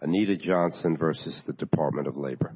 Anita Johnson v. Department of Labor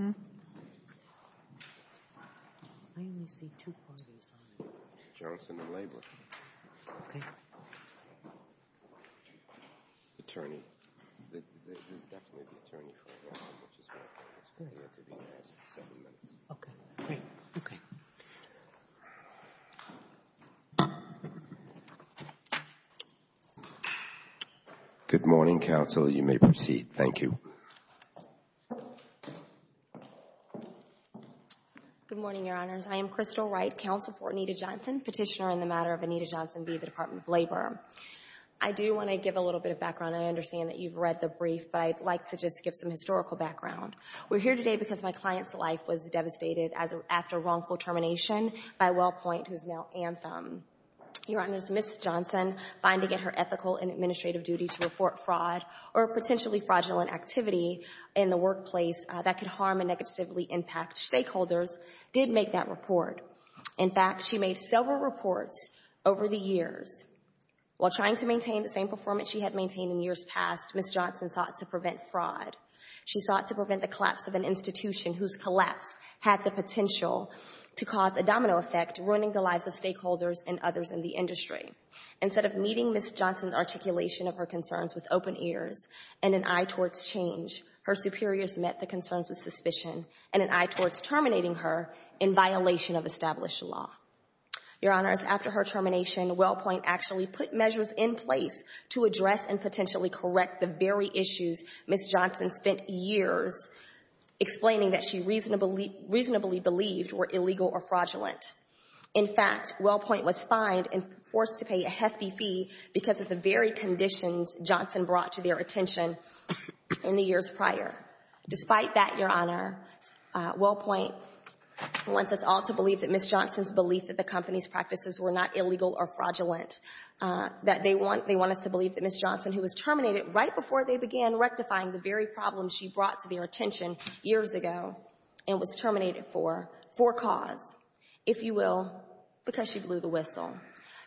I only see two parties on it. Johnson and Labor. Okay. Attorney. They're definitely the attorney for the anthem, which is why I think it's good. Okay. Great. Okay. Good morning, counsel. You may proceed. Thank you. Good morning, Your Honors. I am Crystal Wright, counsel for Anita Johnson, petitioner in the matter of Anita Johnson v. Department of Labor. I do want to give a little bit of background. I understand that you've read the brief, but I'd like to just give some historical background. We're here today because my client's life was devastated after wrongful termination by WellPoint, who is now Anthem. Your Honors, Ms. Johnson, finding it her ethical and administrative duty to report fraud or potentially fraudulent activity in the workplace that could harm and negatively impact stakeholders, did make that report. In fact, she made several reports over the years. While trying to maintain the same performance she had maintained in years past, Ms. Johnson sought to prevent fraud. She sought to prevent the collapse of an institution whose collapse had the potential to cause a domino effect, ruining the lives of stakeholders and others in the industry. Instead of meeting Ms. Johnson's articulation of her concerns with open ears and an eye towards change, her superiors met the concerns with suspicion and an eye towards terminating her in violation of established law. Your Honors, after her termination, WellPoint actually put measures in place to address and potentially correct the very issues Ms. Johnson spent years explaining that she reasonably believed were illegal or fraudulent. In fact, WellPoint was fined and forced to pay a hefty fee because of the very conditions Johnson brought to their attention in the years prior. Despite that, Your Honor, WellPoint wants us all to believe that Ms. Johnson's belief that the company's practices were not illegal or fraudulent, that they want us to believe that Ms. Johnson, who was terminated right before they began rectifying the very problems she brought to their attention years ago and was terminated for, for cause, if you will, because she blew the whistle.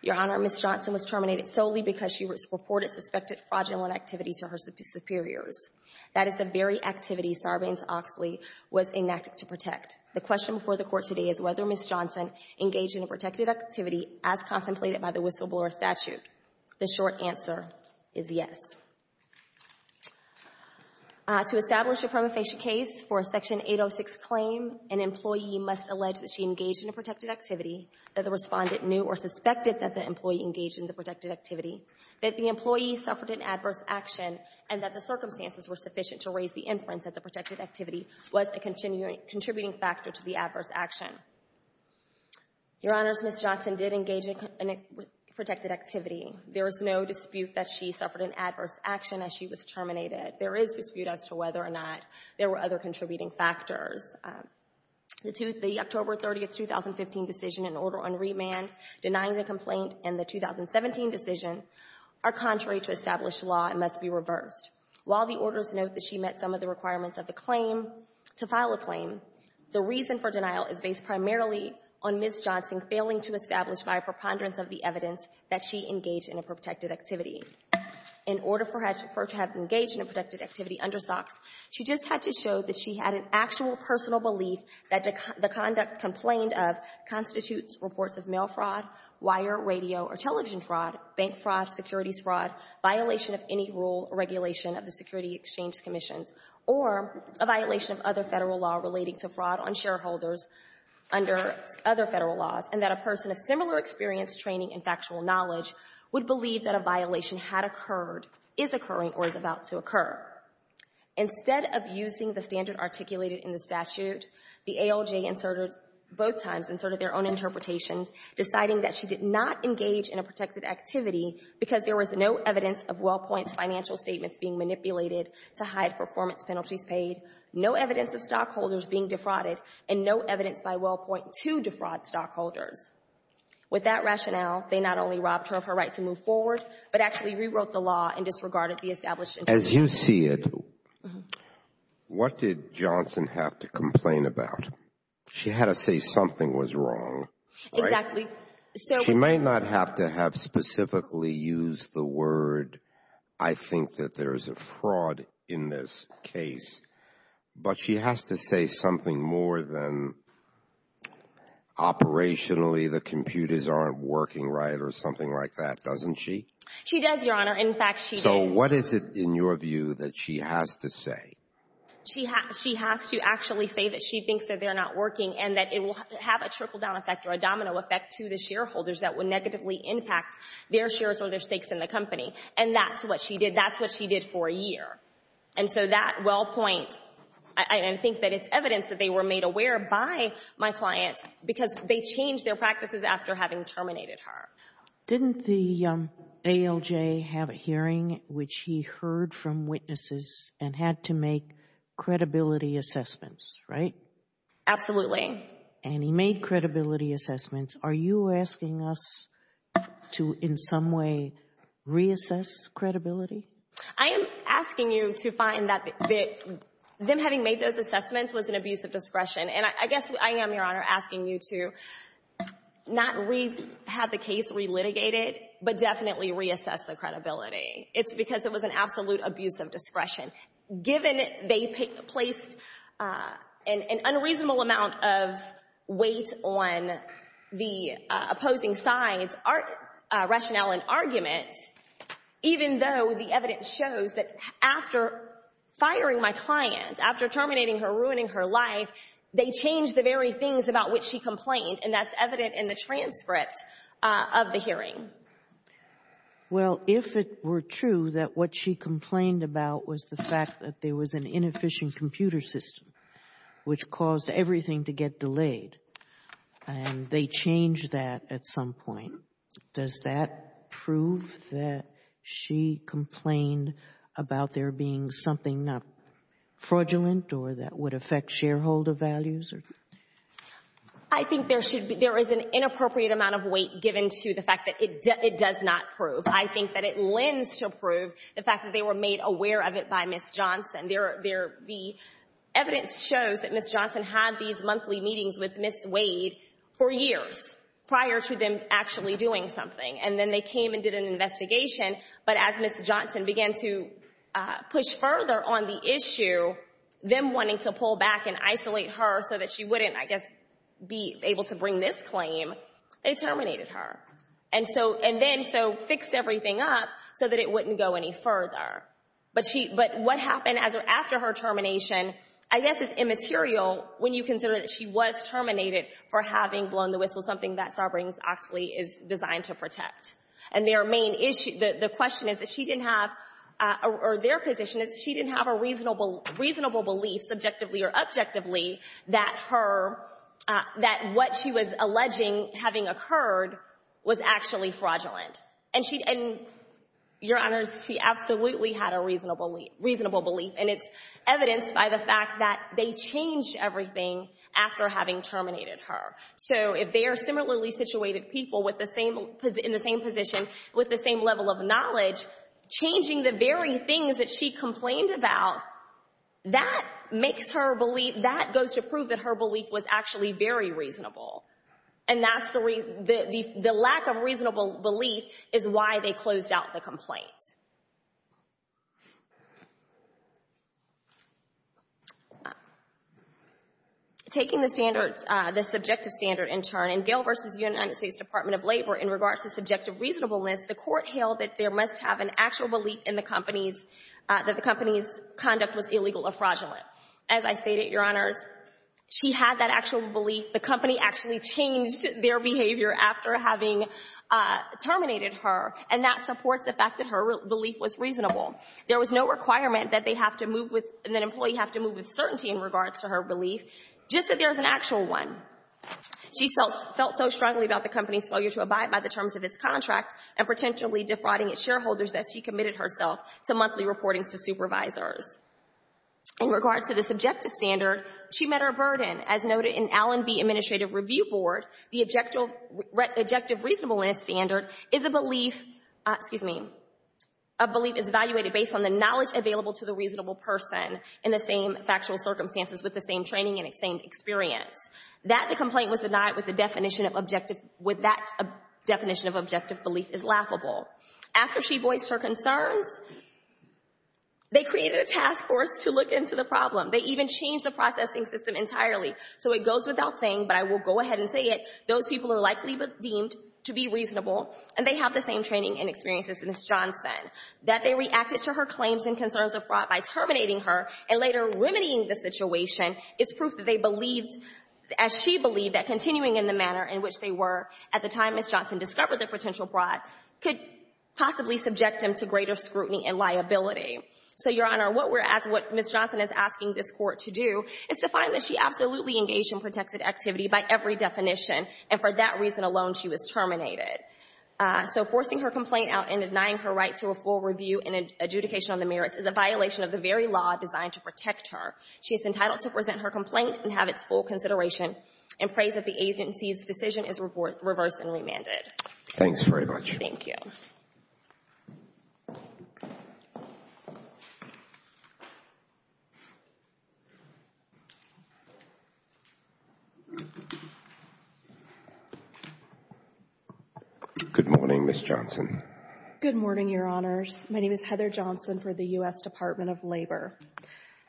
Your Honor, Ms. Johnson was terminated solely because she reported suspected fraudulent activity to her superiors. That is the very activity Sarbanes-Oxley was enacted to protect. The question before the Court today is whether Ms. Johnson engaged in a protected activity as contemplated by the whistleblower statute. The short answer is yes. To establish a prima facie case for a Section 806 claim, an employee must allege that she engaged in a protected activity, that the respondent knew or suspected that the employee engaged in the protected activity, that the employee suffered an adverse action, and that the circumstances were sufficient to raise the inference that the protected activity was a contributing factor to the adverse action. Your Honor, Ms. Johnson did engage in a protected activity. There is no dispute that she suffered an adverse action as she was terminated. There is dispute as to whether or not there were other contributing factors. The October 30, 2015 decision and order on remand denying the complaint and the 2017 decision are contrary to established law and must be reversed. While the orders note that she met some of the requirements of the claim to file a claim, the reason for denial is based primarily on Ms. Johnson failing to establish by a preponderance of the evidence that she engaged in a protected activity. In order for her to have engaged in a protected activity under SOX, she just had to show that she had an actual personal belief that the conduct complained of constitutes reports of mail fraud, wire, radio, or television fraud, bank fraud, securities fraud, violation of any rule or regulation of the security exchange commissions, or a violation of other Federal law relating to fraud on shareholders under other Federal laws, and that a person of similar experience, training, and factual knowledge would believe that a violation had occurred, is occurring, or is about to occur. Instead of using the standard articulated in the statute, the ALJ inserted both times, inserted their own interpretations, deciding that she did not engage in a protected activity because there was no evidence of WellPoint's financial statements being manipulated to hide performance penalties paid, no evidence of stockholders being defrauded, and no evidence by WellPoint to defraud stockholders. With that rationale, they not only robbed her of her right to move forward, but actually rewrote the law and disregarded the established. As you see it, what did Johnson have to complain about? She had to say something was wrong. Exactly. She may not have to have specifically used the word I think that there is a fraud in this case, but she has to say something more than operationally the computers aren't working right or something like that, doesn't she? She does, Your Honor. In fact, she does. So what is it, in your view, that she has to say? She has to actually say that she thinks that they're not working and that it will have a trickle-down effect or a domino effect to the shareholders that would negatively impact their shares or their stakes in the company. And that's what she did. That's what she did for a year. And so that WellPoint, I think that it's evidence that they were made aware by my clients because they changed their practices after having terminated her. Didn't the ALJ have a hearing which he heard from witnesses and had to make credibility assessments, right? Absolutely. And he made credibility assessments. Are you asking us to in some way reassess credibility? I am asking you to find that them having made those assessments was an abuse of discretion. And I guess I am, Your Honor, asking you to not have the case relitigated but definitely reassess the credibility. It's because it was an absolute abuse of discretion. Given they placed an unreasonable amount of weight on the opposing side's rationale and argument, even though the evidence shows that after firing my client, after terminating her, ruining her life, they changed the very things about which she complained, and that's evident in the transcript of the hearing. Well, if it were true that what she complained about was the fact that there was an inefficient computer system which caused everything to get delayed, and they changed that at some point, does that prove that she complained about there being something not fraudulent or that would affect shareholder values? I think there is an inappropriate amount of weight given to the fact that it does not prove. I think that it lends to prove the fact that they were made aware of it by Ms. Johnson. The evidence shows that Ms. Johnson had these monthly meetings with Ms. Wade for years prior to them actually doing something. And then they came and did an investigation. But as Ms. Johnson began to push further on the issue, them wanting to pull back and isolate her so that she wouldn't, I guess, be able to bring this claim, they terminated her, and then so fixed everything up so that it wouldn't go any further. But what happened after her termination, I guess, is immaterial when you consider that she was terminated for having blown the whistle, something that Sovereigns Oxley is designed to protect. And their main issue, the question is that she didn't have, or their position is she didn't have a reasonable belief, subjectively or objectively, that her, that what she was alleging having occurred was actually fraudulent. And she, Your Honors, she absolutely had a reasonable belief. And it's evidenced by the fact that they changed everything after having terminated her. So if they are similarly situated people with the same, in the same position, with the same level of knowledge, changing the very things that she complained about, that makes her believe, that goes to prove that her belief was actually very reasonable. And that's the, the lack of reasonable belief is why they closed out the complaint. Taking the standards, the subjective standard in turn, in Gale v. United States Department of Labor in regards to subjective reasonableness, the court held that there must have an actual belief in the company's, that the company's conduct was illegal or fraudulent. As I stated, Your Honors, she had that actual belief. The company actually changed their behavior after having terminated her. And that supports the fact that her belief was reasonable. There was no requirement that they have to move with, that an employee have to move with certainty in regards to her belief, just that there is an actual one. She felt so strongly about the company's failure to abide by the terms of its contract and potentially defrauding its shareholders as she committed herself to monthly reporting to supervisors. In regards to the subjective standard, she met her burden. As noted in Allen v. Administrative Review Board, the objective reasonableness standard is a belief, excuse me, a belief is evaluated based on the knowledge available to the reasonable person in the same factual circumstances with the same training and the same experience. That the complaint was denied with the definition of objective, with that definition of objective belief is laughable. After she voiced her concerns, they created a task force to look into the problem. They even changed the processing system entirely. So it goes without saying, but I will go ahead and say it, those people are likely deemed to be reasonable, and they have the same training and experiences as Ms. Johnson. That they reacted to her claims and concerns of fraud by terminating her and later remedying the situation is proof that they believed, as she believed, that continuing in the manner in which they were at the time Ms. Johnson discovered the potential fraud could possibly subject them to greater scrutiny and liability. So, Your Honor, what we're asking, what Ms. Johnson is asking this Court to do is to find that she absolutely engaged in protected activity by every definition, and for that reason alone she was terminated. So forcing her complaint out and denying her right to a full review and adjudication on the merits is a violation of the very law designed to protect her. She is entitled to present her complaint and have its full consideration and praise if the agency's decision is reversed and remanded. Thanks very much. Thank you. Good morning, Ms. Johnson. Good morning, Your Honors. My name is Heather Johnson for the U.S. Department of Labor.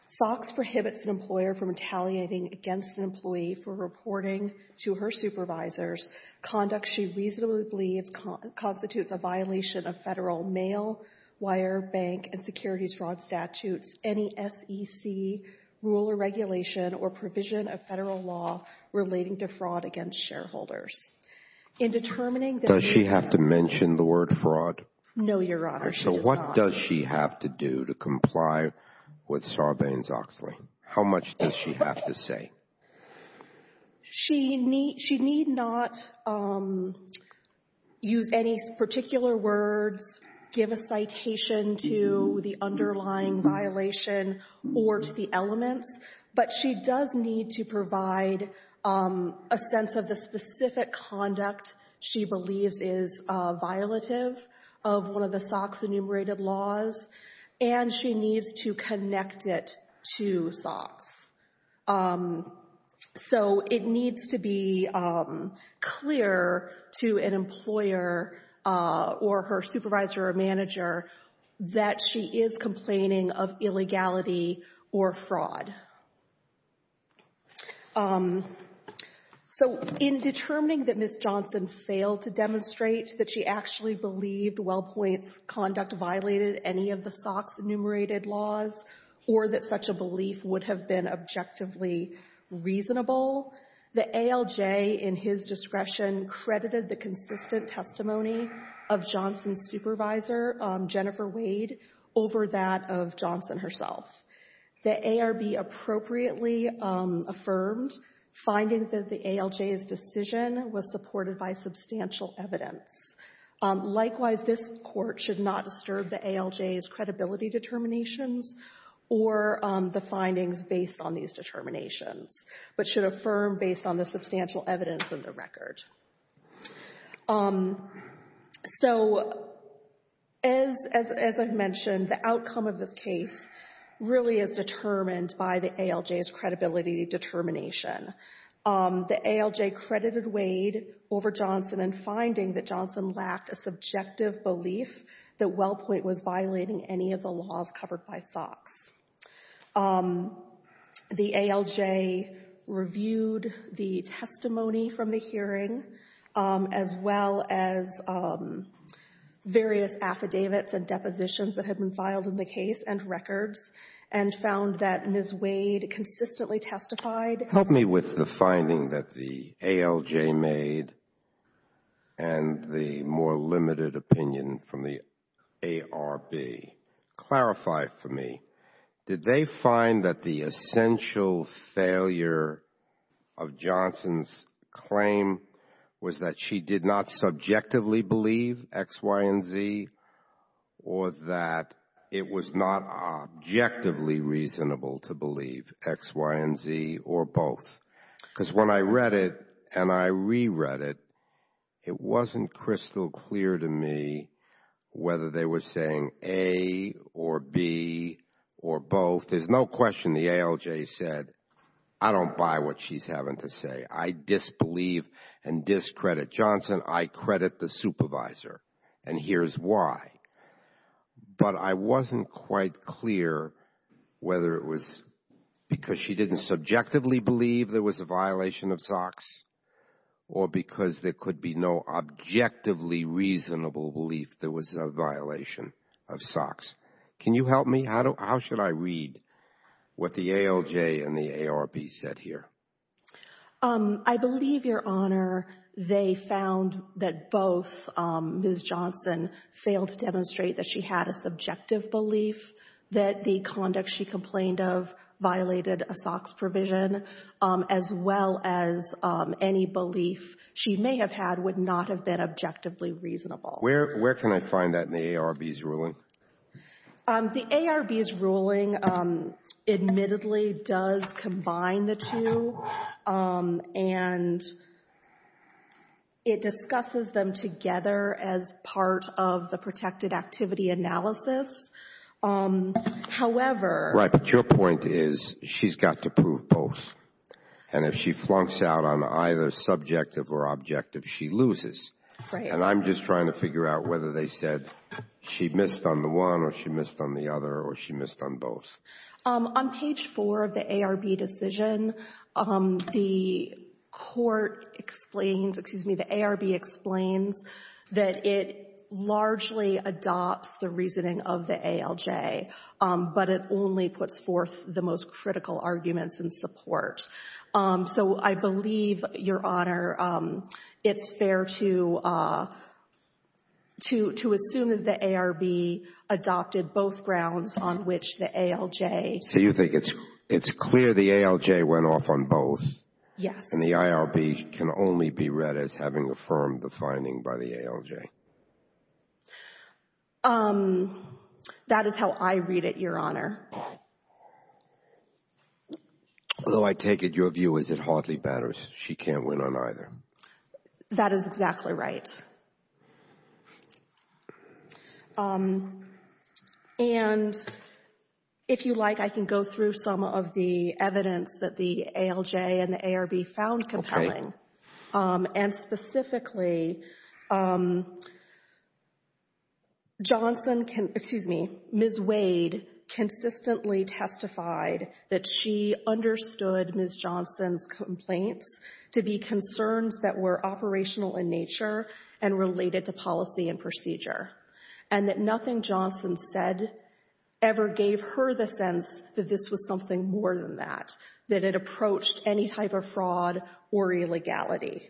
SOX prohibits an employer from retaliating against an employee for reporting to her supervisors conduct she reasonably believes constitutes a violation of Federal mail, wire, bank, and securities fraud statutes, any SEC rule or regulation, or provision of Federal law relating to fraud against shareholders. Does she have to mention the word fraud? No, Your Honor, she does not. So what does she have to do to comply with Sarbanes-Oxley? How much does she have to say? She need not use any particular words, give a citation to the underlying violation or to the elements, but she does need to provide a sense of the specific conduct she believes is violative of one of the SOX enumerated laws, and she needs to connect it to SOX. So it needs to be clear to an employer or her supervisor or manager that she is complaining of illegality or fraud. So in determining that Ms. Johnson failed to demonstrate that she actually believed WellPoint's conduct violated any of the SOX enumerated laws or that such a belief would have been objectively reasonable, the ALJ in his discretion credited the consistent testimony of Johnson's supervisor, Jennifer Wade, over that of Johnson herself. The ARB appropriately affirmed finding that the ALJ's decision was supported by substantial evidence. Likewise, this Court should not disturb the ALJ's credibility determinations or the findings based on these determinations, but should affirm based on the substantial evidence in the record. So as I've mentioned, the outcome of this case really is determined by the ALJ's credibility determination. The ALJ credited Wade over Johnson in finding that Johnson lacked a subjective belief that WellPoint was violating any of the laws covered by SOX. The ALJ reviewed the testimony from the hearing as well as various affidavits and depositions that had been filed in the case and records and found that Ms. Wade consistently testified. Help me with the finding that the ALJ made and the more limited opinion from the ARB. Clarify for me, did they find that the essential failure of Johnson's claim was that she did not subjectively believe X, Y, and Z or that it was not objectively reasonable to believe X, Y, and Z or both? Because when I read it and I reread it, it wasn't crystal clear to me whether they were saying A or B or both. There's no question the ALJ said, I don't buy what she's having to say. I disbelieve and discredit Johnson. I credit the supervisor and here's why. But I wasn't quite clear whether it was because she didn't subjectively believe there was a violation of SOX or because there could be no objectively reasonable belief there was a violation of SOX. Can you help me? How should I read what the ALJ and the ARB said here? I believe, Your Honor, they found that both Ms. Johnson failed to demonstrate that she had a subjective belief that the conduct she complained of violated a SOX provision as well as any belief she may have had would not have been objectively reasonable. Where can I find that in the ARB's ruling? The ARB's ruling admittedly does combine the two and it discusses them together as part of the protected activity analysis. However. Right, but your point is she's got to prove both. And if she flunks out on either subjective or objective, she loses. Right. And I'm just trying to figure out whether they said she missed on the one or she missed on the other or she missed on both. On page four of the ARB decision, the court explains, excuse me, the ARB explains that it largely adopts the reasoning of the ALJ, but it only puts forth the most critical arguments in support. So I believe, Your Honor, it's fair to assume that the ARB adopted both grounds on which the ALJ. So you think it's clear the ALJ went off on both. Yes. And the ARB can only be read as having affirmed the finding by the ALJ. That is how I read it, Your Honor. Although I take it your view is it hardly matters. She can't win on either. That is exactly right. And if you like, I can go through some of the evidence that the ALJ and the ARB found compelling. Okay. And specifically, Johnson can, excuse me, Ms. Wade consistently testified that she understood Ms. Johnson's complaints to be concerns that were operational in nature and related to policy and procedure, and that nothing Johnson said ever gave her the sense that this was something more than that, that it approached any type of fraud or illegality.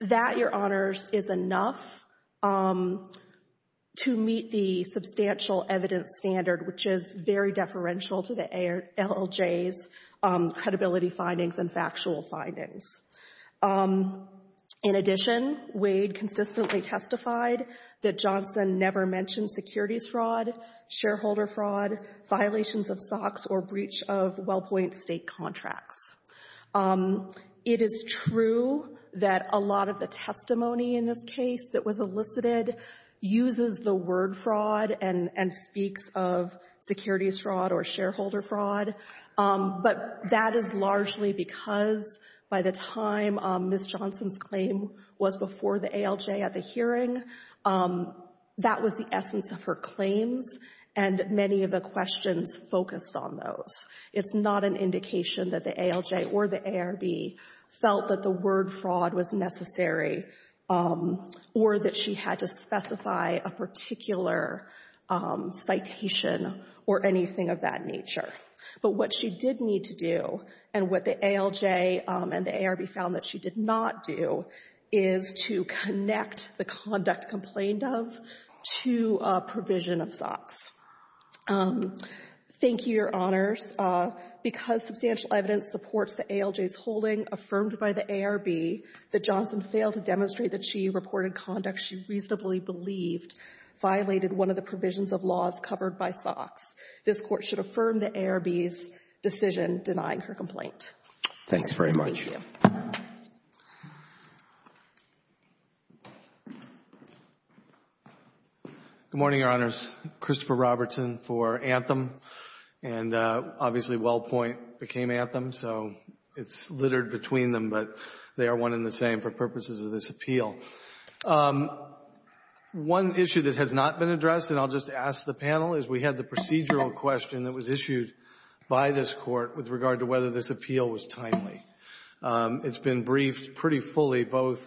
That, Your Honors, is enough to meet the substantial evidence standard, which is very deferential to the ALJ's credibility findings and factual findings. In addition, Wade consistently testified that Johnson never mentioned securities fraud, shareholder fraud, violations of SOX, or breach of WellPoint state contracts. It is true that a lot of the testimony in this case that was elicited uses the word fraud and speaks of securities fraud or shareholder fraud, but that is largely because by the time Ms. Johnson's claim was before the ALJ at the hearing, that was the essence of her claims, and many of the questions focused on those. It's not an indication that the ALJ or the ARB felt that the word fraud was necessary or that she had to specify a particular citation or anything of that nature. But what she did need to do and what the ALJ and the ARB found that she did not do is to connect the conduct complained of to a provision of SOX. Thank you, Your Honors. Because substantial evidence supports the ALJ's holding affirmed by the ARB that Johnson failed to demonstrate that she reported conduct she reasonably believed violated one of the provisions of laws covered by SOX, this Court should affirm the ARB's decision denying her complaint. Thank you, Your Honors. Thanks very much. Good morning, Your Honors. Christopher Robertson for Anthem. And obviously WellPoint became Anthem, so it's littered between them, but they are one and the same for purposes of this appeal. One issue that has not been addressed, and I'll just ask the panel, is we had the procedural question that was issued by this Court with regard to whether this appeal was timely. It's been briefed pretty fully both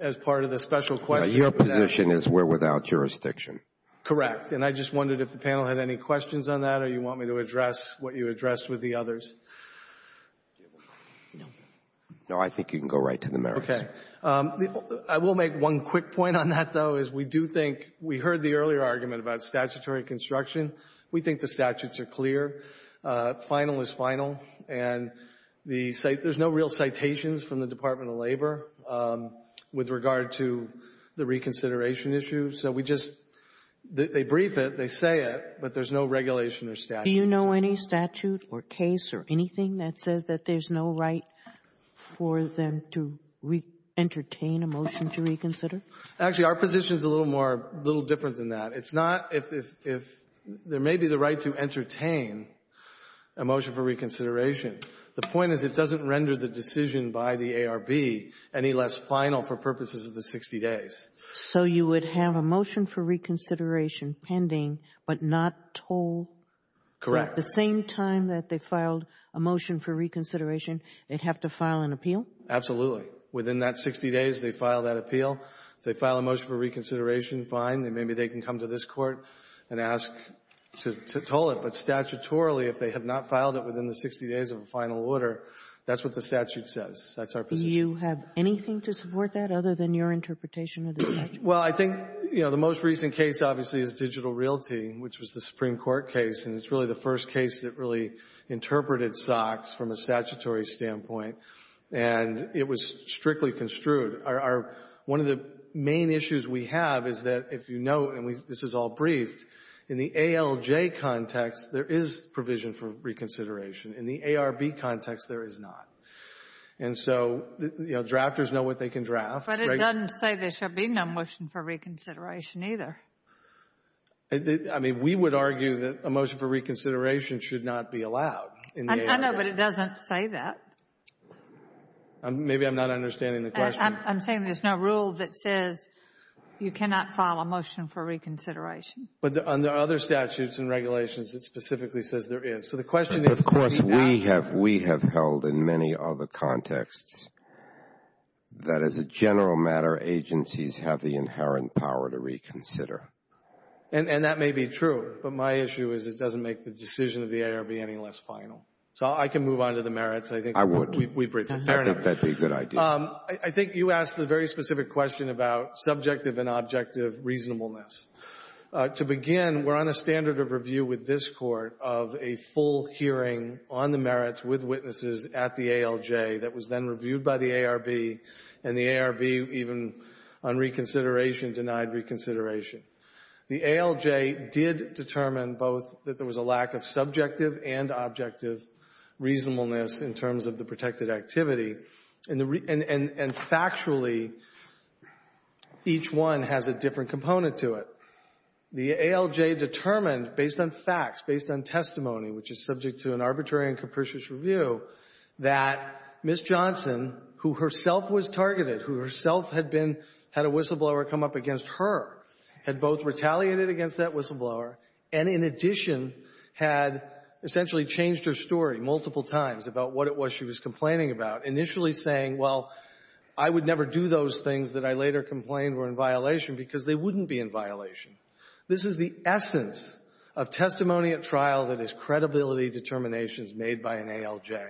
as part of the special question. Your position is we're without jurisdiction. Correct. And I just wondered if the panel had any questions on that or you want me to address what you addressed with the others. No, I think you can go right to the merits. Okay. I will make one quick point on that, though, is we do think we heard the earlier argument about statutory construction. We think the statutes are clear. Final is final, and there's no real citations from the Department of Labor with regard to the reconsideration issue. So they brief it, they say it, but there's no regulation or statute. Do you know any statute or case or anything that says that there's no right for them to entertain a motion to reconsider? Actually, our position is a little different than that. It's not if there may be the right to entertain a motion for reconsideration. The point is it doesn't render the decision by the ARB any less final for purposes of the 60 days. So you would have a motion for reconsideration pending but not told? Correct. At the same time that they filed a motion for reconsideration, they'd have to file an appeal? Absolutely. Within that 60 days, they file that appeal. If they file a motion for reconsideration, fine. Maybe they can come to this Court and ask to toll it. But statutorily, if they have not filed it within the 60 days of a final order, that's what the statute says. That's our position. Do you have anything to support that other than your interpretation of the statute? Well, I think, you know, the most recent case, obviously, is Digital Realty, which was the Supreme Court case. And it's really the first case that really interpreted SOX from a statutory standpoint. And it was strictly construed. One of the main issues we have is that if you know, and this is all briefed, in the ALJ context, there is provision for reconsideration. In the ARB context, there is not. And so, you know, drafters know what they can draft. But it doesn't say there should be no motion for reconsideration either. I mean, we would argue that a motion for reconsideration should not be allowed in the ALJ. I know, but it doesn't say that. Maybe I'm not understanding the question. I'm saying there's no rule that says you cannot file a motion for reconsideration. But under other statutes and regulations, it specifically says there is. Of course, we have held in many other contexts that, as a general matter, agencies have the inherent power to reconsider. And that may be true. But my issue is it doesn't make the decision of the ARB any less final. So I can move on to the merits. I would. I think that would be a good idea. I think you asked a very specific question about subjective and objective reasonableness. To begin, we're on a standard of review with this Court of a full hearing on the merits with witnesses at the ALJ that was then reviewed by the ARB. And the ARB, even on reconsideration, denied reconsideration. The ALJ did determine both that there was a lack of subjective and objective reasonableness in terms of the protected activity. And factually, each one has a different component to it. The ALJ determined, based on facts, based on testimony, which is subject to an arbitrary and capricious review, that Ms. Johnson, who herself was targeted, who herself had a whistleblower come up against her, had both retaliated against that whistleblower and, in addition, had essentially changed her story multiple times about what it was she was complaining about. Initially saying, well, I would never do those things that I later complained were in violation because they wouldn't be in violation. This is the essence of testimony at trial that is credibility determinations made by an ALJ,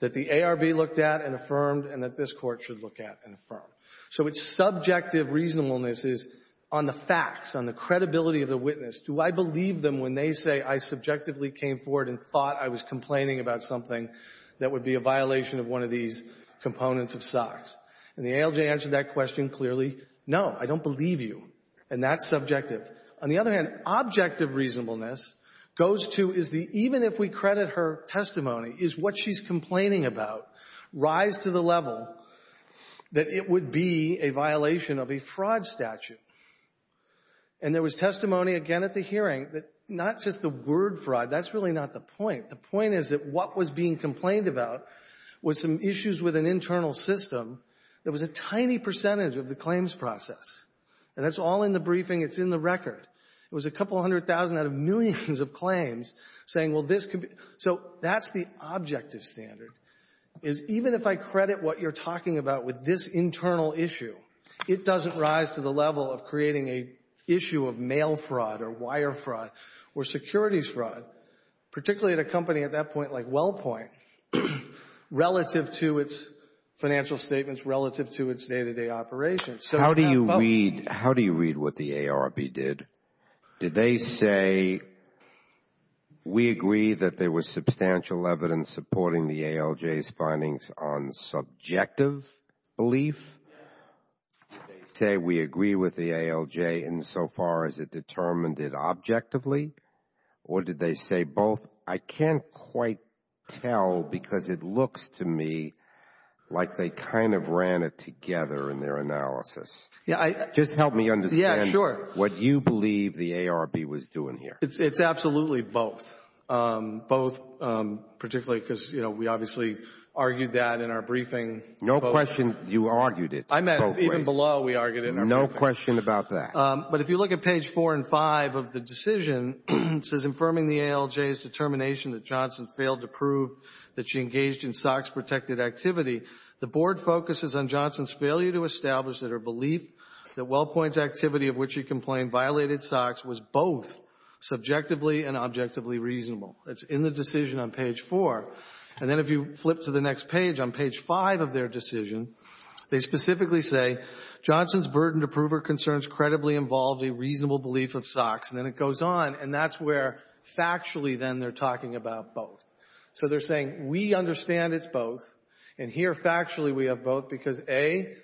that the ARB looked at and affirmed, and that this Court should look at and affirm. So its subjective reasonableness is on the facts, on the credibility of the witness. Do I believe them when they say I subjectively came forward and thought I was complaining about something that would be a violation of one of these components of SOX? And the ALJ answered that question clearly, no, I don't believe you. And that's subjective. On the other hand, objective reasonableness goes to, is the even if we credit her testimony, is what she's complaining about rise to the level that it would be a violation of a fraud statute? And there was testimony, again, at the hearing that not just the word fraud, that's really not the point. The point is that what was being complained about was some issues with an internal system that was a tiny percentage of the claims process. And that's all in the briefing. It's in the record. It was a couple hundred thousand out of millions of claims saying, well, this could be — so that's the objective standard, is even if I credit what you're talking about with this internal issue, it doesn't rise to the level of creating an issue of mail fraud or wire fraud or securities fraud, particularly at a company at that point like WellPoint, relative to its financial statements, relative to its day-to-day operations. How do you read what the ARB did? Did they say, we agree that there was substantial evidence supporting the ALJ's findings on subjective belief? Did they say, we agree with the ALJ insofar as it determined it objectively? Or did they say both? I can't quite tell because it looks to me like they kind of ran it together in their analysis. Just help me understand what you believe the ARB was doing here. It's absolutely both. Both particularly because, you know, we obviously argued that in our briefing. No question you argued it both ways. I meant even below we argued it in our briefing. No question about that. But if you look at page 4 and 5 of the decision, it says, infirming the ALJ's determination that Johnson failed to prove that she engaged in SOX-protected activity, the board focuses on Johnson's failure to establish that her belief that WellPoint's activity of which she complained violated SOX was both subjectively and objectively reasonable. That's in the decision on page 4. And then if you flip to the next page, on page 5 of their decision, they specifically say, Johnson's burden to prove her concerns credibly involved a reasonable belief of SOX. And then it goes on, and that's where factually then they're talking about both. So they're saying, we understand it's both. And here factually we have both because, A,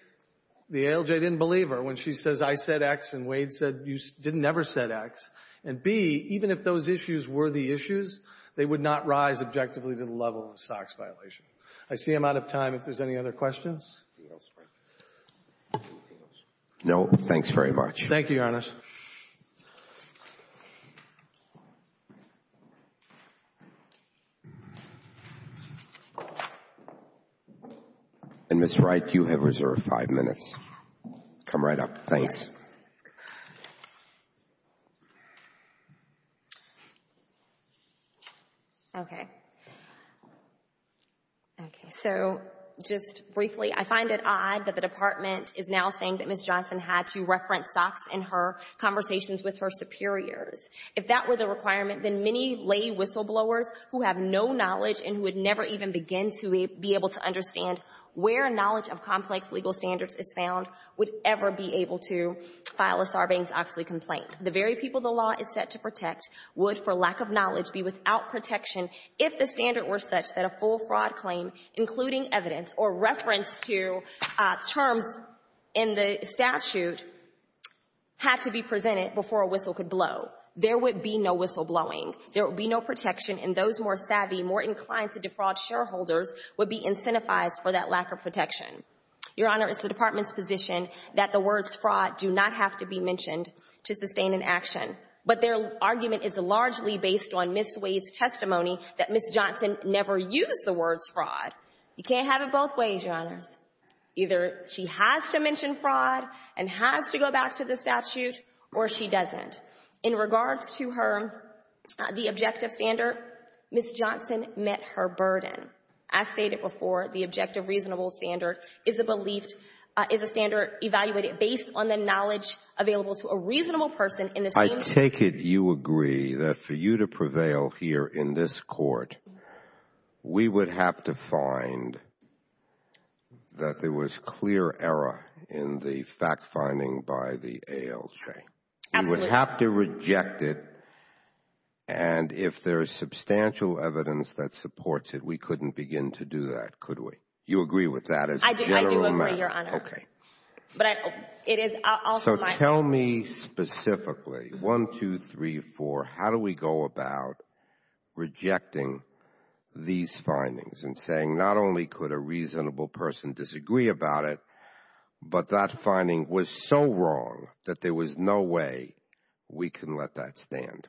the ALJ didn't believe her when she says I said X and Wade said you never said X. And, B, even if those issues were the issues, they would not rise objectively to the level of a SOX violation. I see I'm out of time. If there's any other questions? Anything else? No. Thanks very much. Thank you, Your Honor. And, Ms. Wright, you have reserved five minutes. Come right up. Thanks. Okay. So just briefly, I find it odd that the Department is now saying that Ms. Johnson had to reference SOX in her conversations with her superiors. If that were the requirement, then many lay whistleblowers who have no knowledge and would never even begin to be able to understand where knowledge of complex legal standards is found would ever be able to file a Sarbanes-Oxley complaint. The very people the law is set to protect would, for lack of knowledge, be without protection if the standard were such that a full fraud claim, including evidence or reference to terms in the statute, had to be presented before a whistle could blow. There would be no whistleblowing. There would be no protection, and those more savvy, more inclined to defraud shareholders would be incentivized for that lack of protection. Your Honor, it's the Department's position that the words fraud do not have to be mentioned to sustain an action, but their argument is largely based on Ms. Wade's testimony that Ms. Johnson never used the words fraud. You can't have it both ways, Your Honors. Either she has to mention fraud and has to go back to the statute, or she doesn't. In regards to her, the objective standard, Ms. Johnson met her burden. As stated before, the objective reasonable standard is a belief, is a standard evaluated based on the knowledge available to a reasonable person in this case. I take it you agree that for you to prevail here in this court, we would have to find that there was clear error in the fact-finding by the ALJ. Absolutely. You would have to reject it, and if there is substantial evidence that supports it, we couldn't begin to do that, could we? You agree with that as a general matter? I do agree, Your Honor. Okay. So tell me specifically, one, two, three, four, how do we go about rejecting these findings and saying not only could a reasonable person disagree about it, but that finding was so wrong that there was no way we can let that stand?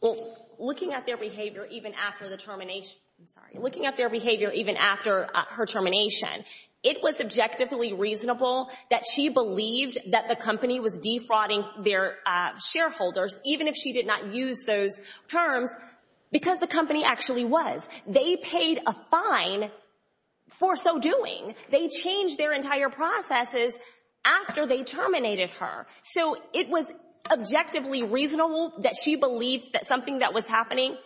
Well, looking at their behavior even after the termination, I'm sorry, looking at their behavior even after her termination, it was objectively reasonable that she believed that the company was defrauding their shareholders, even if she did not use those terms, because the company actually was. They paid a fine for so doing. They changed their entire processes after they terminated her. So it was objectively reasonable that she believed that something that was happening,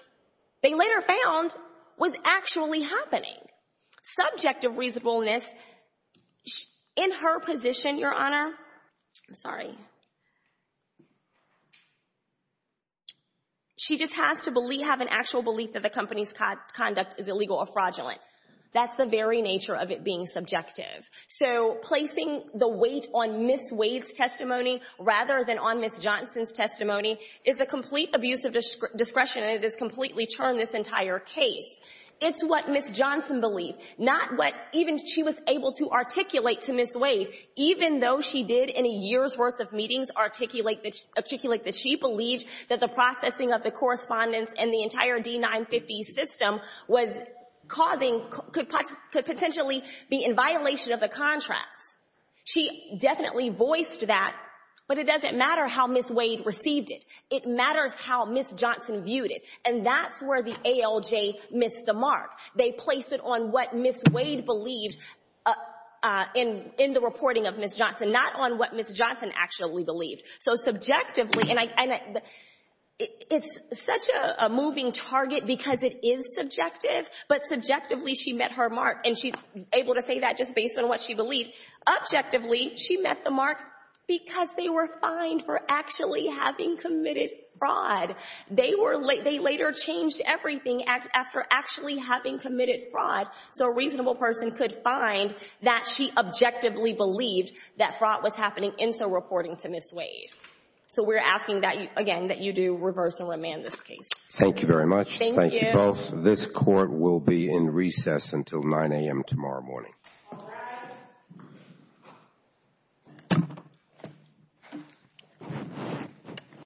they later found, was actually happening. Subjective reasonableness, in her position, Your Honor, I'm sorry, she just has to have an actual belief that the company's conduct is illegal or fraudulent. That's the very nature of it being subjective. So placing the weight on Ms. Wade's testimony rather than on Ms. Johnson's testimony is a complete abuse of discretion, and it has completely turned this entire case. It's what Ms. Johnson believed, not what even she was able to articulate to Ms. Wade, even though she did in a year's worth of meetings articulate that she believed that the processing of the correspondence and the entire D-950 system was causing, could potentially be in violation of the contracts. She definitely voiced that, but it doesn't matter how Ms. Wade received it. It matters how Ms. Johnson viewed it, and that's where the ALJ missed the mark. They placed it on what Ms. Wade believed in the reporting of Ms. Johnson, not on what Ms. Johnson actually believed. So subjectively, and it's such a moving target because it is subjective, but subjectively she met her mark, and she's able to say that just based on what she believed. Objectively, she met the mark because they were fined for actually having committed fraud. They later changed everything after actually having committed fraud so a reasonable person could find that she objectively believed that fraud was happening and so reporting to Ms. Wade. So we're asking that, again, that you do reverse and remand this case. Thank you very much. Thank you. This court will be in recess until 9 a.m. tomorrow morning. All rise.